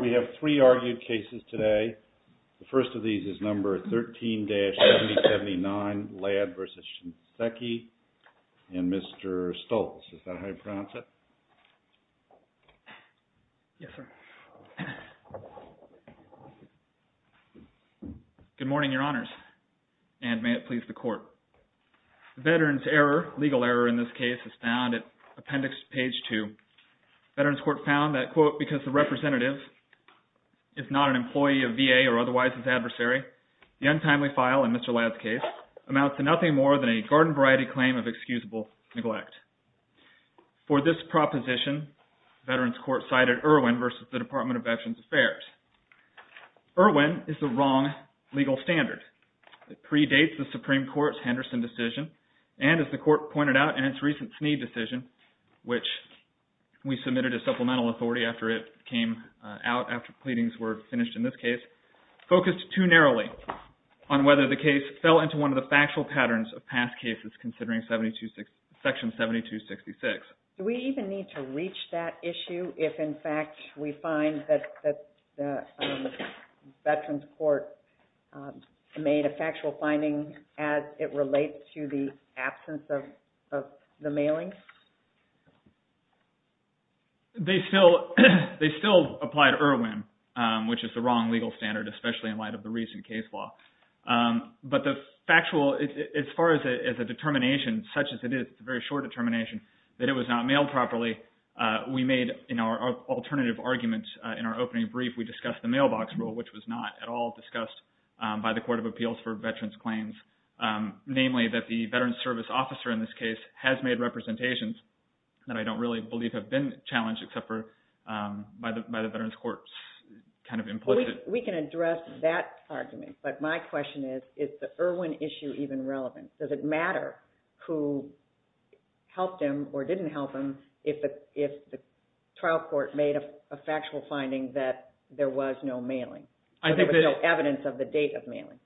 We have three argued cases today. The first of these is number 13-7079, Ladd v. Shinseki, and Mr. Stoltz. Is that how you pronounce it? Yes, sir. Good morning, Your Honors, and may it please the Court. Veterans error, legal error in this case, is found at appendix page 2. Veterans Court found that, quote, because the representative is not an employee of VA or otherwise his adversary, the untimely file in Mr. Ladd's case amounts to nothing more than a garden-variety claim of excusable neglect. For this proposition, Veterans Court cited Irwin v. Department of Veterans Affairs. Irwin is the wrong legal standard. It predates the Supreme Court's Henderson decision, and as the Court pointed out in its recent Snead decision, which we submitted as supplemental authority after it came out, after pleadings were finished in this case, it focused too narrowly on whether the case fell into one of the factual patterns of past cases, considering section 7266. Do we even need to reach that issue if, in fact, we find that Veterans Court made a factual finding as it relates to the absence of the mailing? They still applied Irwin, which is the wrong legal standard, especially in light of the recent case law. But the factual, as far as a determination, such as it is a very short determination, that it was not mailed properly, we made in our alternative argument in our opening brief, we discussed the mailbox rule, which was not at all discussed by the Court of Appeals for Veterans Claims. Namely, that the Veterans Service Officer in this case has made representations that I don't really believe have been challenged, except for by the Veterans Courts implicit. We can address that argument, but my question is, is the Irwin issue even relevant? Does it matter who helped him or didn't help him if the trial court made a factual finding that there was no mailing? There was no evidence of the date of mailing.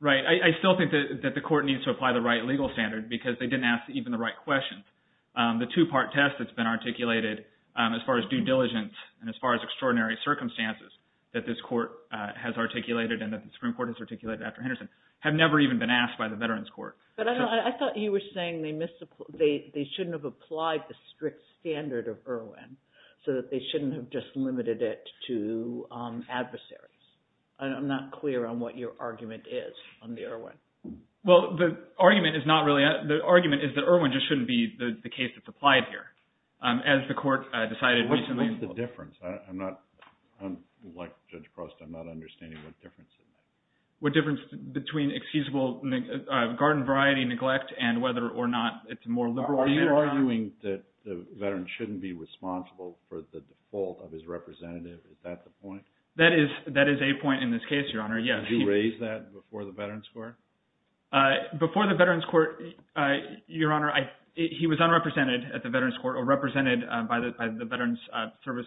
Right. I still think that the court needs to apply the right legal standard because they didn't ask even the right questions. The two-part test that's been articulated as far as due diligence and as far as extraordinary circumstances that this court has articulated and that the Supreme Court has articulated after Henderson have never even been asked by the Veterans Court. But I thought you were saying they shouldn't have applied the strict standard of Irwin, so that they shouldn't have just limited it to adversaries. I'm not clear on what your argument is on the Irwin. Well, the argument is not really – the argument is that Irwin just shouldn't be the case that's applied here. As the court decided recently… What's the difference? I'm not – like Judge Prost, I'm not understanding what the difference is. What difference between excusable garden variety neglect and whether or not it's a more liberal… Are you arguing that the veteran shouldn't be responsible for the default of his representative? Is that the point? That is a point in this case, Your Honor. Yes. Did you raise that before the Veterans Court? Before the Veterans Court, Your Honor, he was unrepresented at the Veterans Court or represented by the Veterans Service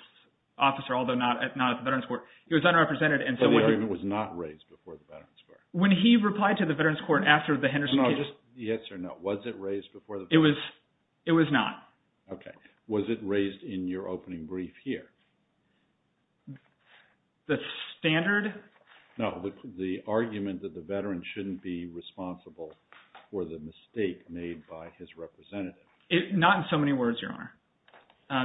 Officer, although not at the Veterans Court. He was unrepresented. So the argument was not raised before the Veterans Court? When he replied to the Veterans Court after the Henderson case… No, just yes or no. Was it raised before the… It was not. Okay. Was it raised in your opening brief here? The standard? No, the argument that the veteran shouldn't be responsible for the mistake made by his representative. Not in so many words, Your Honor.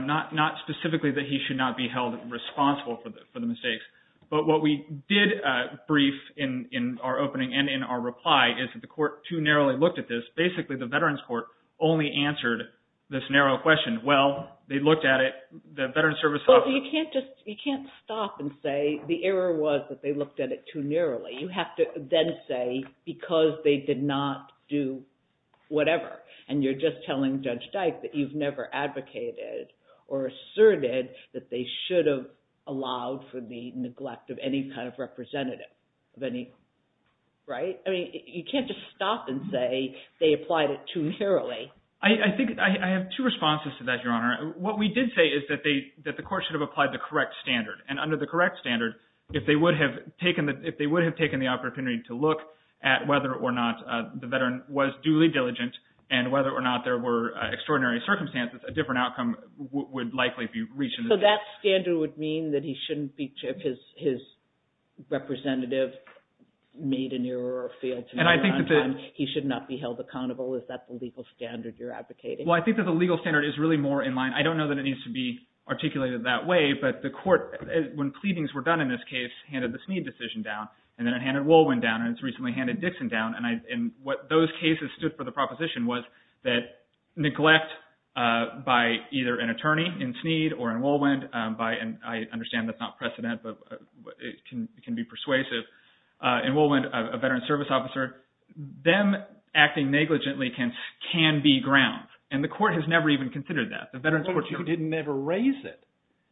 Not specifically that he should not be held responsible for the mistakes. But what we did brief in our opening and in our reply is that the court too narrowly looked at this. Basically, the Veterans Court only answered this narrow question. Well, they looked at it. The Veterans Service Officer… You can't just – you can't stop and say the error was that they looked at it too narrowly. You have to then say because they did not do whatever. And you're just telling Judge Dyke that you've never advocated or asserted that they should have allowed for the neglect of any kind of representative of any – right? I mean, you can't just stop and say they applied it too narrowly. I think – I have two responses to that, Your Honor. What we did say is that they – that the court should have applied the correct standard. And under the correct standard, if they would have taken the – if they would have taken the opportunity to look at whether or not the veteran was duly diligent and whether or not there were extraordinary circumstances, a different outcome would likely be reached in the case. So that standard would mean that he shouldn't be – if his representative made an error or failed to make it on time, he should not be held accountable? Is that the legal standard you're advocating? Well, I think that the legal standard is really more in line. I don't know that it needs to be articulated that way, but the court, when pleadings were done in this case, handed the Sneed decision down. And then it handed Woolwind down, and it's recently handed Dixon down. And what those cases stood for the proposition was that neglect by either an attorney in Sneed or in Woolwind by – and I understand that's not precedent, but it can be persuasive – in Woolwind, a veteran service officer, them acting negligently can be ground. And the court has never even considered that. But you didn't ever raise it.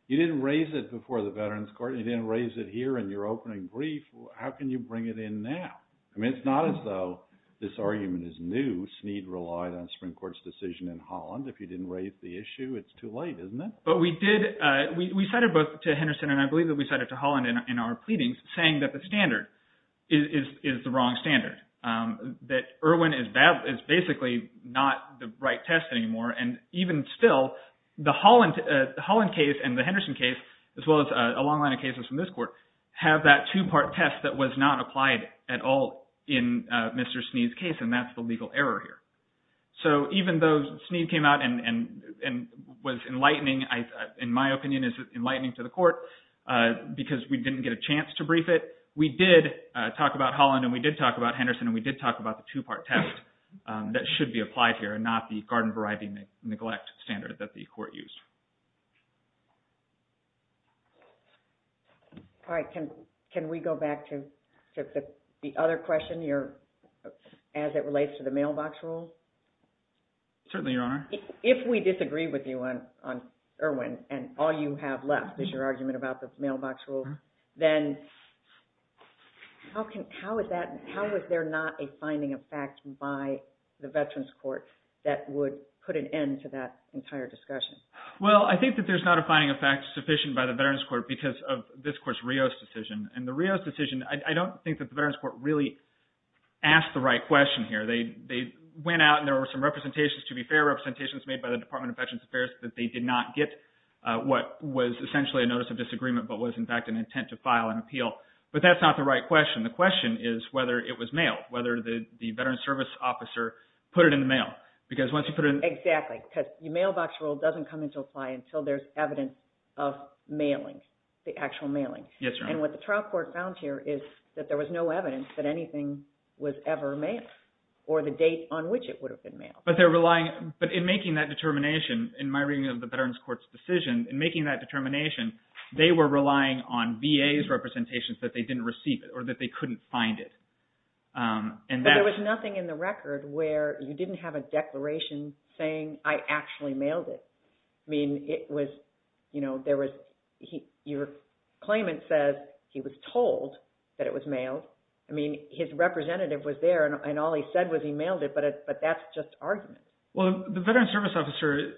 You didn't raise it before the Veterans Court. You didn't raise it here in your opening brief. How can you bring it in now? I mean it's not as though this argument is new. Sneed relied on Supreme Court's decision in Holland. If you didn't raise the issue, it's too late, isn't it? But we did – we cited both to Henderson, and I believe that we cited to Holland in our pleadings, saying that the standard is the wrong standard, that Irwin is basically not the right test anymore. And even still, the Holland case and the Henderson case, as well as a long line of cases from this court, have that two-part test that was not applied at all in Mr. Sneed's case, and that's the legal error here. So even though Sneed came out and was enlightening, in my opinion is enlightening to the court, because we didn't get a chance to brief it, we did talk about Holland and we did talk about Henderson and we did talk about the two-part test that should be applied here and not the garden variety neglect standard that the court used. All right. Can we go back to the other question, as it relates to the mailbox rule? Certainly, Your Honor. If we disagree with you on Irwin and all you have left is your argument about the mailbox rule, then how is there not a finding of fact by the Veterans Court that would put an end to that entire discussion? Well, I think that there's not a finding of fact sufficient by the Veterans Court because of this court's Rios decision. And the Rios decision, I don't think that the Veterans Court really asked the right question here. They went out and there were some representations, to be fair, representations made by the Department of Veterans Affairs that they did not get what was essentially a notice of disagreement but was, in fact, an intent to file an appeal. But that's not the right question. The question is whether it was mailed, whether the Veterans Service officer put it in the mail. Exactly, because the mailbox rule doesn't come into apply until there's evidence of mailing, the actual mailing. Yes, Your Honor. And what the trial court found here is that there was no evidence that anything was ever mailed or the date on which it would have been mailed. But in making that determination, in my reading of the Veterans Court's decision, in making that determination, they were relying on VA's representations that they didn't receive or that they couldn't find it. But there was nothing in the record where you didn't have a declaration saying, I actually mailed it. I mean, it was, you know, there was, your claimant says he was told that it was mailed. I mean, his representative was there and all he said was he mailed it, but that's just argument. Well, the Veterans Service officer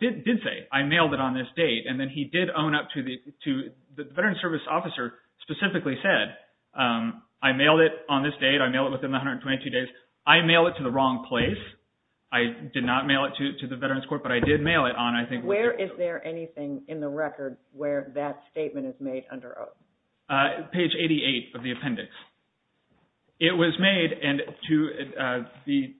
did say, I mailed it on this date. And then he did own up to the Veterans Service officer specifically said, I mailed it on this date. I mailed it within 122 days. I mailed it to the wrong place. I did not mail it to the Veterans Court, but I did mail it on, I think. Where is there anything in the record where that statement is made under oath? Page 88 of the appendix. It was made, and to be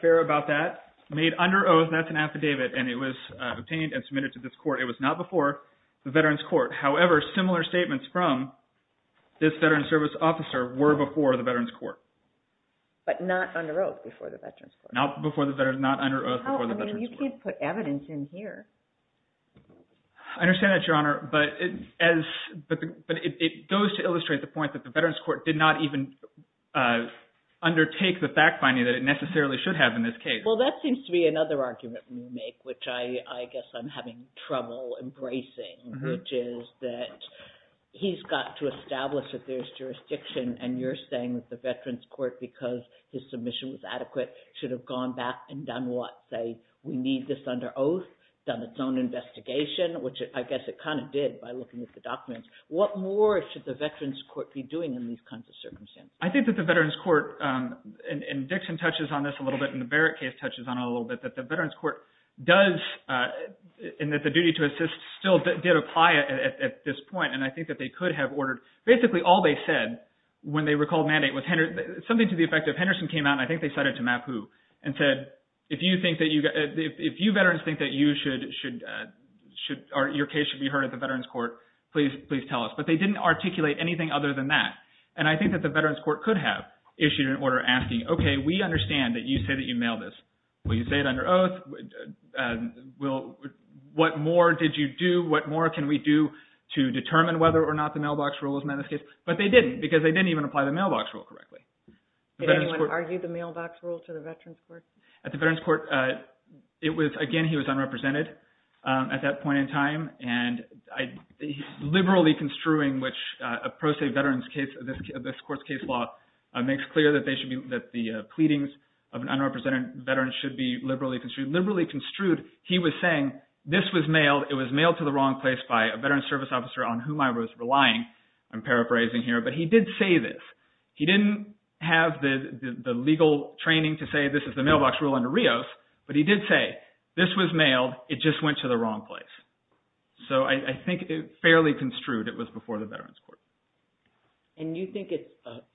fair about that, made under oath, that's an affidavit, and it was obtained and submitted to this court. It was not before the Veterans Court. However, similar statements from this Veterans Service officer were before the Veterans Court. But not under oath before the Veterans Court. Not before the Veterans, not under oath before the Veterans Court. I mean, you can't put evidence in here. I understand that, Your Honor, but it goes to illustrate the point that the Veterans Court did not even undertake the fact finding that it necessarily should have in this case. Well, that seems to be another argument you make, which I guess I'm having trouble embracing, which is that he's got to establish that there's jurisdiction, and you're saying that the Veterans Court, because his submission was adequate, should have gone back and done what, say, we need this under oath, done its own investigation, which I guess it kind of did by looking at the documents. What more should the Veterans Court be doing in these kinds of circumstances? I think that the Veterans Court, and Dixon touches on this a little bit, and the Barrett case touches on it a little bit, that the Veterans Court does, and that the duty to assist still did apply at this point, and I think that they could have ordered. Basically, all they said when they recalled mandate was something to the effect of, Henderson came out, and I think they said it to Mapu, and said, if you veterans think that your case should be heard at the Veterans Court, please tell us. But they didn't articulate anything other than that. And I think that the Veterans Court could have issued an order asking, okay, we understand that you say that you mail this. Will you say it under oath? What more did you do? What more can we do to determine whether or not the mailbox rule is met in this case? But they didn't, because they didn't even apply the mailbox rule correctly. Did anyone argue the mailbox rule to the Veterans Court? At the Veterans Court, again, he was unrepresented at that point in time, and he's liberally construing which a pro se veteran's case of this court's case law makes clear that the pleadings of an unrepresented veteran should be liberally construed. Liberally construed, he was saying, this was mailed. It was mailed to the wrong place by a veterans service officer on whom I was relying. I'm paraphrasing here, but he did say this. He didn't have the legal training to say this is the mailbox rule under Rios, but he did say this was mailed. It just went to the wrong place. So I think fairly construed, it was before the Veterans Court. And you think it's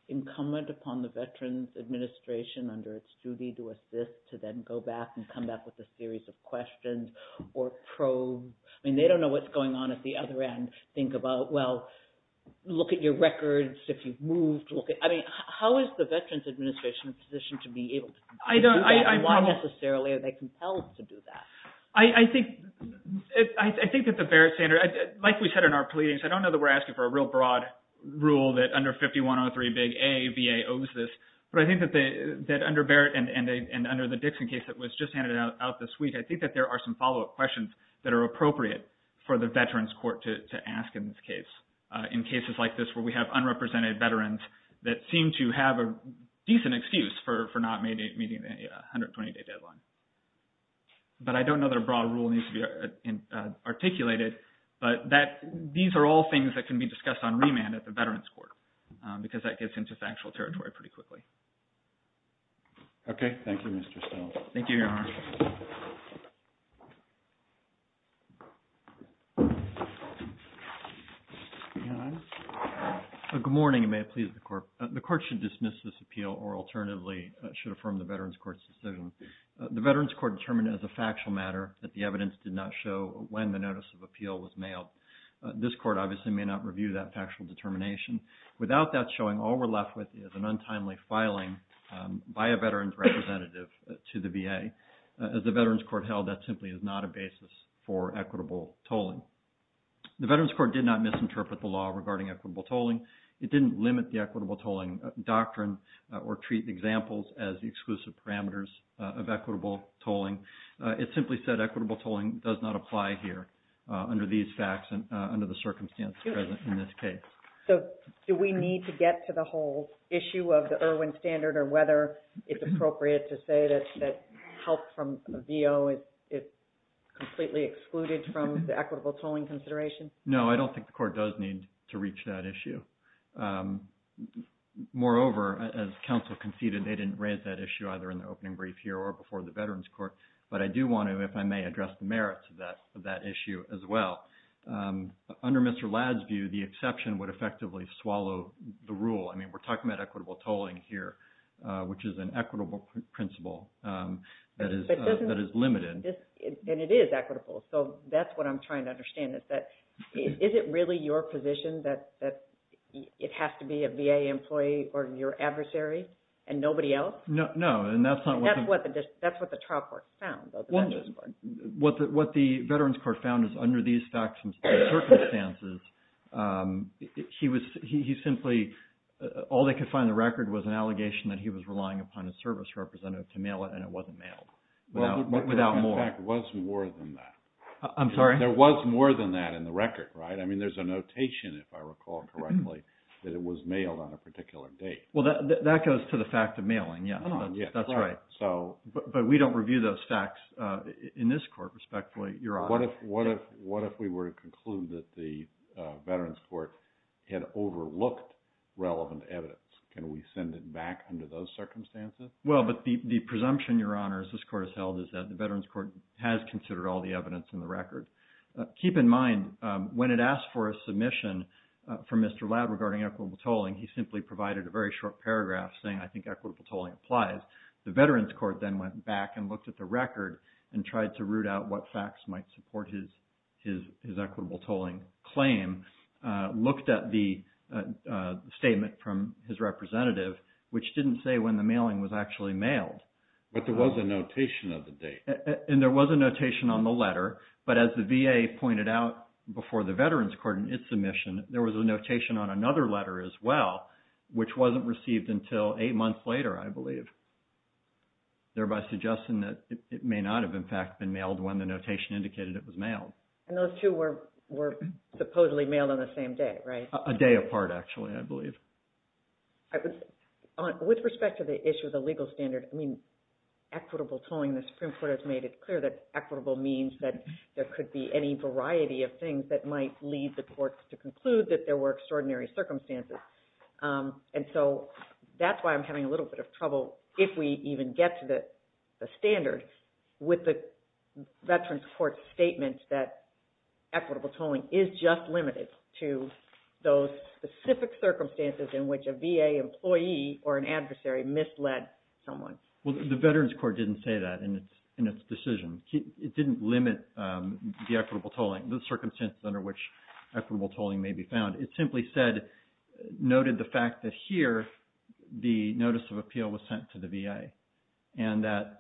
incumbent upon the Veterans Administration under its duty to assist, to then go back and come back with a series of questions or probes? I mean, they don't know what's going on at the other end. Think about, well, look at your records if you've moved. Why necessarily are they compelled to do that? I think that the Barrett standard, like we said in our pleadings, I don't know that we're asking for a real broad rule that under 5103 big A, VA owes this, but I think that under Barrett and under the Dixon case that was just handed out this week, I think that there are some follow-up questions that are appropriate for the Veterans Court to ask in this case. In cases like this where we have unrepresented veterans that seem to have a decent excuse for not meeting the 120-day deadline. But I don't know that a broad rule needs to be articulated, but these are all things that can be discussed on remand at the Veterans Court because that gets into factual territory pretty quickly. Okay. Thank you, Mr. Stone. Thank you, Your Honor. Good morning, and may it please the Court. The Court should dismiss this appeal or alternatively should affirm the Veterans Court's decision. The Veterans Court determined as a factual matter that the evidence did not show when the notice of appeal was mailed. This Court obviously may not review that factual determination. Without that showing, all we're left with is an untimely filing by a veteran's representative to the VA. As the Veterans Court held, that simply is not a basis for equitable tolling. The Veterans Court did not misinterpret the law regarding equitable tolling. It didn't limit the equitable tolling doctrine or treat examples as the exclusive parameters of equitable tolling. It simply said equitable tolling does not apply here under these facts and under the circumstances present in this case. So do we need to get to the whole issue of the Irwin Standard or whether it's appropriate to say that help from a VO is completely excluded from the equitable tolling consideration? No, I don't think the Court does need to reach that issue. Moreover, as counsel conceded, they didn't raise that issue either in the opening brief here or before the Veterans Court, but I do want to, if I may, address the merits of that issue as well. Under Mr. Ladd's view, the exception would effectively swallow the rule. I mean, we're talking about equitable tolling here, which is an equitable principle that is limited. And it is equitable, so that's what I'm trying to understand. Is it really your position that it has to be a VA employee or your adversary and nobody else? No, and that's not what the – That's what the trial court found, though, the Veterans Court. What the Veterans Court found is under these facts and circumstances, he simply – all they could find in the record was an allegation that he was relying upon a service representative to mail it and it wasn't mailed without more. In fact, it was more than that. I'm sorry? There was more than that in the record, right? I mean, there's a notation, if I recall correctly, that it was mailed on a particular date. Well, that goes to the fact of mailing, yes. That's right. But we don't review those facts in this court, respectfully, Your Honor. What if we were to conclude that the Veterans Court had overlooked relevant evidence? Can we send it back under those circumstances? Well, but the presumption, Your Honors, this court has held is that the Veterans Court has considered all the evidence in the record. Keep in mind, when it asked for a submission from Mr. Ladd regarding equitable tolling, he simply provided a very short paragraph saying, I think equitable tolling applies. The Veterans Court then went back and looked at the record and tried to root out what facts might support his equitable tolling claim, looked at the statement from his representative, which didn't say when the mailing was actually mailed. But there was a notation of the date. And there was a notation on the letter. But as the VA pointed out before the Veterans Court in its submission, there was a notation on another letter as well, which wasn't received until eight months later, I believe, thereby suggesting that it may not have, in fact, been mailed when the notation indicated it was mailed. And those two were supposedly mailed on the same day, right? A day apart, actually, I believe. With respect to the issue of the legal standard, I mean, equitable tolling, the Supreme Court has made it clear that equitable means that there could be any variety of things that might lead the courts to conclude that there were extraordinary circumstances. And so that's why I'm having a little bit of trouble, if we even get to the standard, with the Veterans Court's statement that equitable tolling is just limited to those specific circumstances in which a VA employee or an adversary misled someone. Well, the Veterans Court didn't say that in its decision. It didn't limit the equitable tolling, the circumstances under which equitable tolling may be found. It simply said, noted the fact that here the notice of appeal was sent to the VA. And that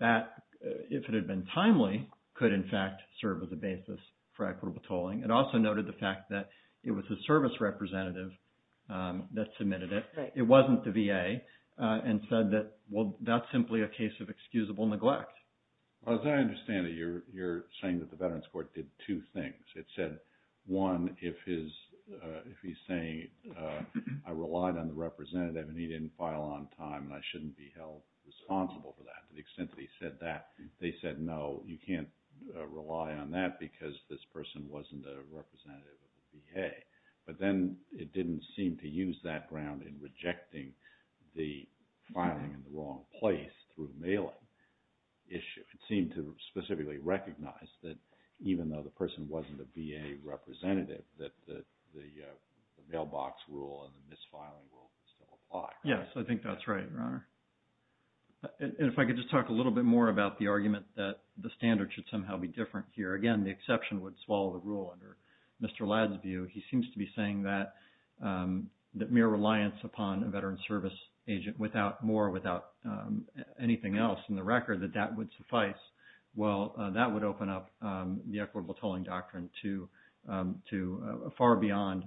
that, if it had been timely, could, in fact, serve as a basis for equitable tolling. It also noted the fact that it was a service representative that submitted it. It wasn't the VA and said that, well, that's simply a case of excusable neglect. As I understand it, you're saying that the Veterans Court did two things. It said, one, if he's saying I relied on the representative and he didn't file on time and I shouldn't be held responsible for that to the extent that he said that. They said, no, you can't rely on that because this person wasn't a representative of the VA. But then it didn't seem to use that ground in rejecting the filing in the wrong place through mailing. It seemed to specifically recognize that even though the person wasn't a VA representative, that the mailbox rule and the misfiling rule still apply. Yes, I think that's right, Your Honor. And if I could just talk a little bit more about the argument that the standard should somehow be different here. Again, the exception would swallow the rule under Mr. Ladd's view. He seems to be saying that mere reliance upon a veteran service agent without more, without anything else in the record, that that would suffice. Well, that would open up the equitable tolling doctrine to far beyond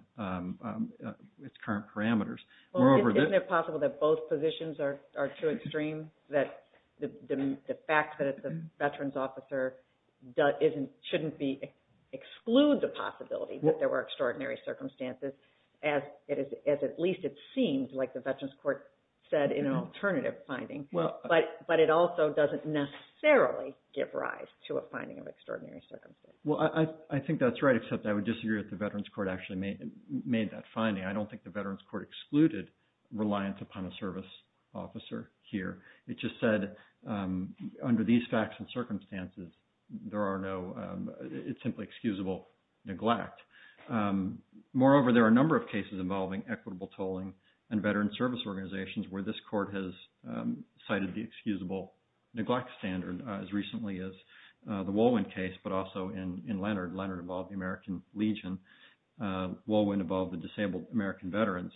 its current parameters. Isn't it possible that both positions are too extreme? The fact that it's a veterans officer shouldn't exclude the possibility that there were extraordinary circumstances, as at least it seems like the Veterans Court said in an alternative finding. But it also doesn't necessarily give rise to a finding of extraordinary circumstances. Well, I think that's right, except I would disagree that the Veterans Court actually made that finding. I don't think the Veterans Court excluded reliance upon a service officer here. It just said under these facts and circumstances, there are no, it's simply excusable neglect. Moreover, there are a number of cases involving equitable tolling and veteran service organizations where this court has cited the excusable neglect standard as recently as the Wolwin case, but also in Leonard. Leonard involved the American Legion. Wolwin involved the disabled American veterans.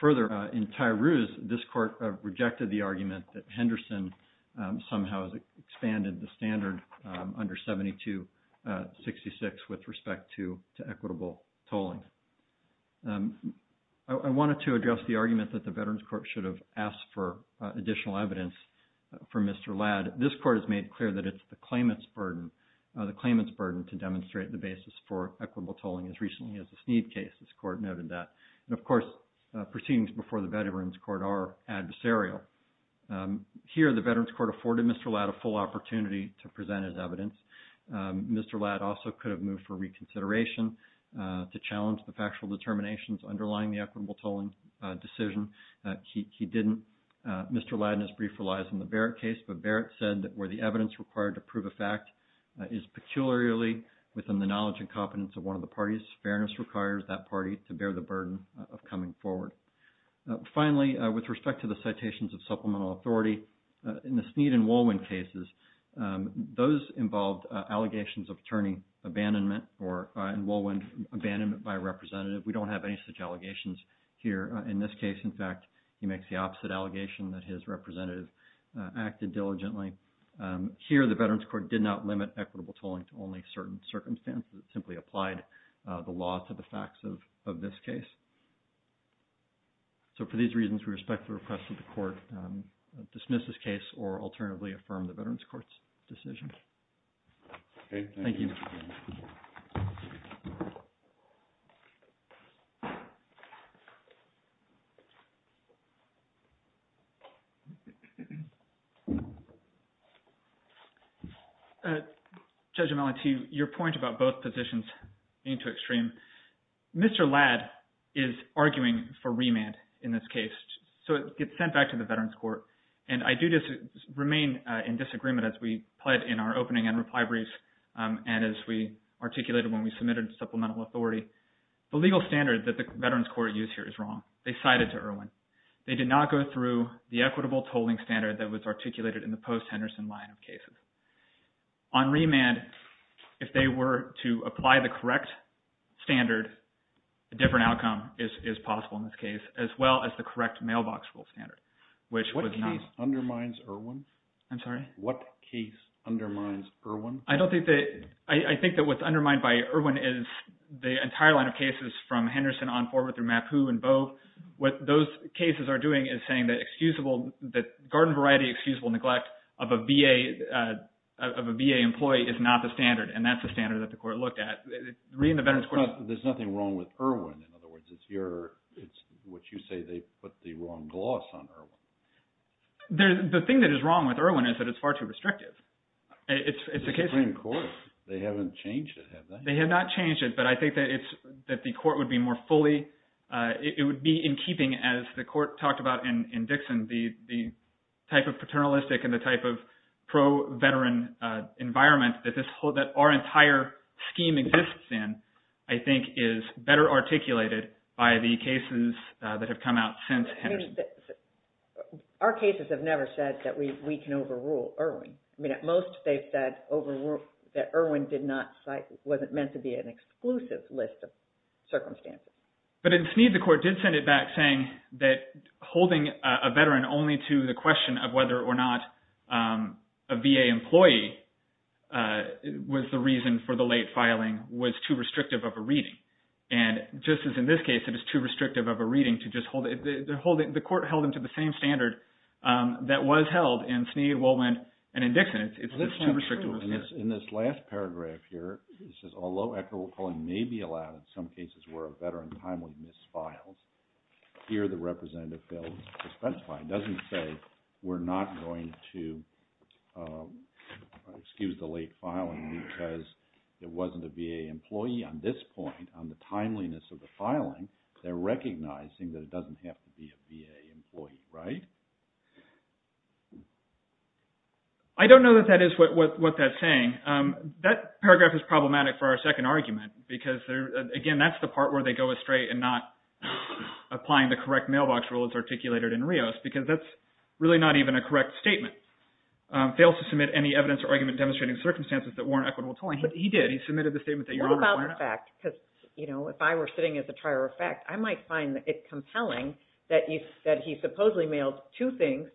Further, in Tyrouse, this court rejected the argument that Henderson somehow has expanded the standard under 7266 with respect to equitable tolling. I wanted to address the argument that the Veterans Court should have asked for additional evidence from Mr. Ladd. This court has made clear that it's the claimant's burden to demonstrate the basis for equitable tolling as recently as the Sneed case. This court noted that. And, of course, proceedings before the Veterans Court are adversarial. Here, the Veterans Court afforded Mr. Ladd a full opportunity to present his evidence. Mr. Ladd also could have moved for reconsideration to challenge the factual determinations underlying the equitable tolling decision. He didn't. Mr. Ladd, in his brief, relies on the Barrett case, but Barrett said that where the evidence required to prove a fact is peculiarly within the knowledge and competence of one of the parties. Fairness requires that party to bear the burden of coming forward. Finally, with respect to the citations of supplemental authority, in the Sneed and Wolwin cases, those involved allegations of attorney abandonment or, in Wolwin, abandonment by a representative. We don't have any such allegations here. In this case, in fact, he makes the opposite allegation that his representative acted diligently. Here, the Veterans Court did not limit equitable tolling to only certain circumstances. It simply applied the law to the facts of this case. So for these reasons, we respectfully request that the court dismiss this case or alternatively affirm the Veterans Court's decision. Thank you. Judge O'Malley, to your point about both positions being too extreme, Mr. Ladd is arguing for remand in this case. So it gets sent back to the Veterans Court, and I do remain in disagreement as we pled in our opening and reply briefs and as we articulated when we submitted supplemental authority. The legal standard that the Veterans Court used here is wrong. They cited to Irwin. They did not go through the equitable tolling standard that was articulated in the post-Henderson line of cases. On remand, if they were to apply the correct standard, a different outcome is possible in this case, as well as the correct mailbox rule standard, which was not… What case undermines Irwin? I'm sorry? What case undermines Irwin? I don't think that – I think that what's undermined by Irwin is the entire line of cases from Henderson on forward through Mapu and Bogue. So what those cases are doing is saying that excusable – that garden variety excusable neglect of a VA employee is not the standard, and that's the standard that the court looked at. Read in the Veterans Court. There's nothing wrong with Irwin. In other words, it's your – it's what you say they put the wrong gloss on Irwin. The thing that is wrong with Irwin is that it's far too restrictive. It's the Supreme Court. They haven't changed it, have they? They have not changed it, but I think that it's – that the court would be more fully – it would be in keeping, as the court talked about in Dixon, the type of paternalistic and the type of pro-veteran environment that our entire scheme exists in, I think, is better articulated by the cases that have come out since Henderson. Our cases have never said that we can overrule Irwin. I mean, at most, they've said overrule – that Irwin did not – wasn't meant to be an exclusive list of circumstances. But in Snead, the court did send it back saying that holding a veteran only to the question of whether or not a VA employee was the reason for the late filing was too restrictive of a reading. And just as in this case, it is too restrictive of a reading to just hold – the court held them to the same standard that was held in Snead, Woolman, and in Dixon. It's too restrictive of a standard. of the filing, they're recognizing that it doesn't have to be a VA employee, right? I don't know that that is what that's saying. That paragraph is problematic for our second argument because, again, that's the part where they go astray and not applying the correct mailbox rule as articulated in Rios because that's really not even a correct statement. Fails to submit any evidence or argument demonstrating circumstances that warrant equitable tolling. He did. What about the fact – because if I were sitting as a trier of fact, I might find it compelling that he supposedly mailed two things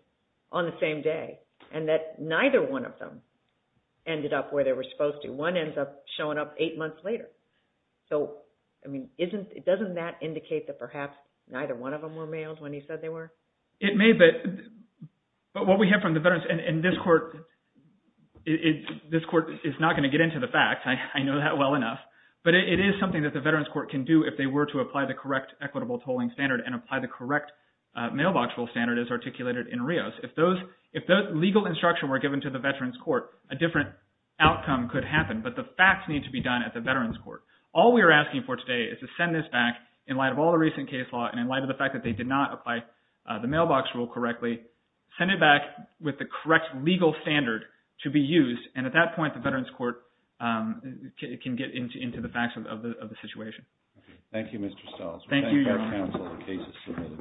on the same day and that neither one of them ended up where they were supposed to. One ends up showing up eight months later. So, I mean, doesn't that indicate that perhaps neither one of them were mailed when he said they were? It may, but what we have from the veterans – and this court is not going to get into the facts. I know that well enough, but it is something that the veterans court can do if they were to apply the correct equitable tolling standard and apply the correct mailbox rule standard as articulated in Rios. If those legal instructions were given to the veterans court, a different outcome could happen, but the facts need to be done at the veterans court. All we are asking for today is to send this back in light of all the recent case law and in light of the fact that they did not apply the mailbox rule correctly. Send it back with the correct legal standard to be used, and at that point, the veterans court can get into the facts of the situation. Thank you, Mr. Stiles. Thank you, Your Honor. We thank our counsel for the cases submitted.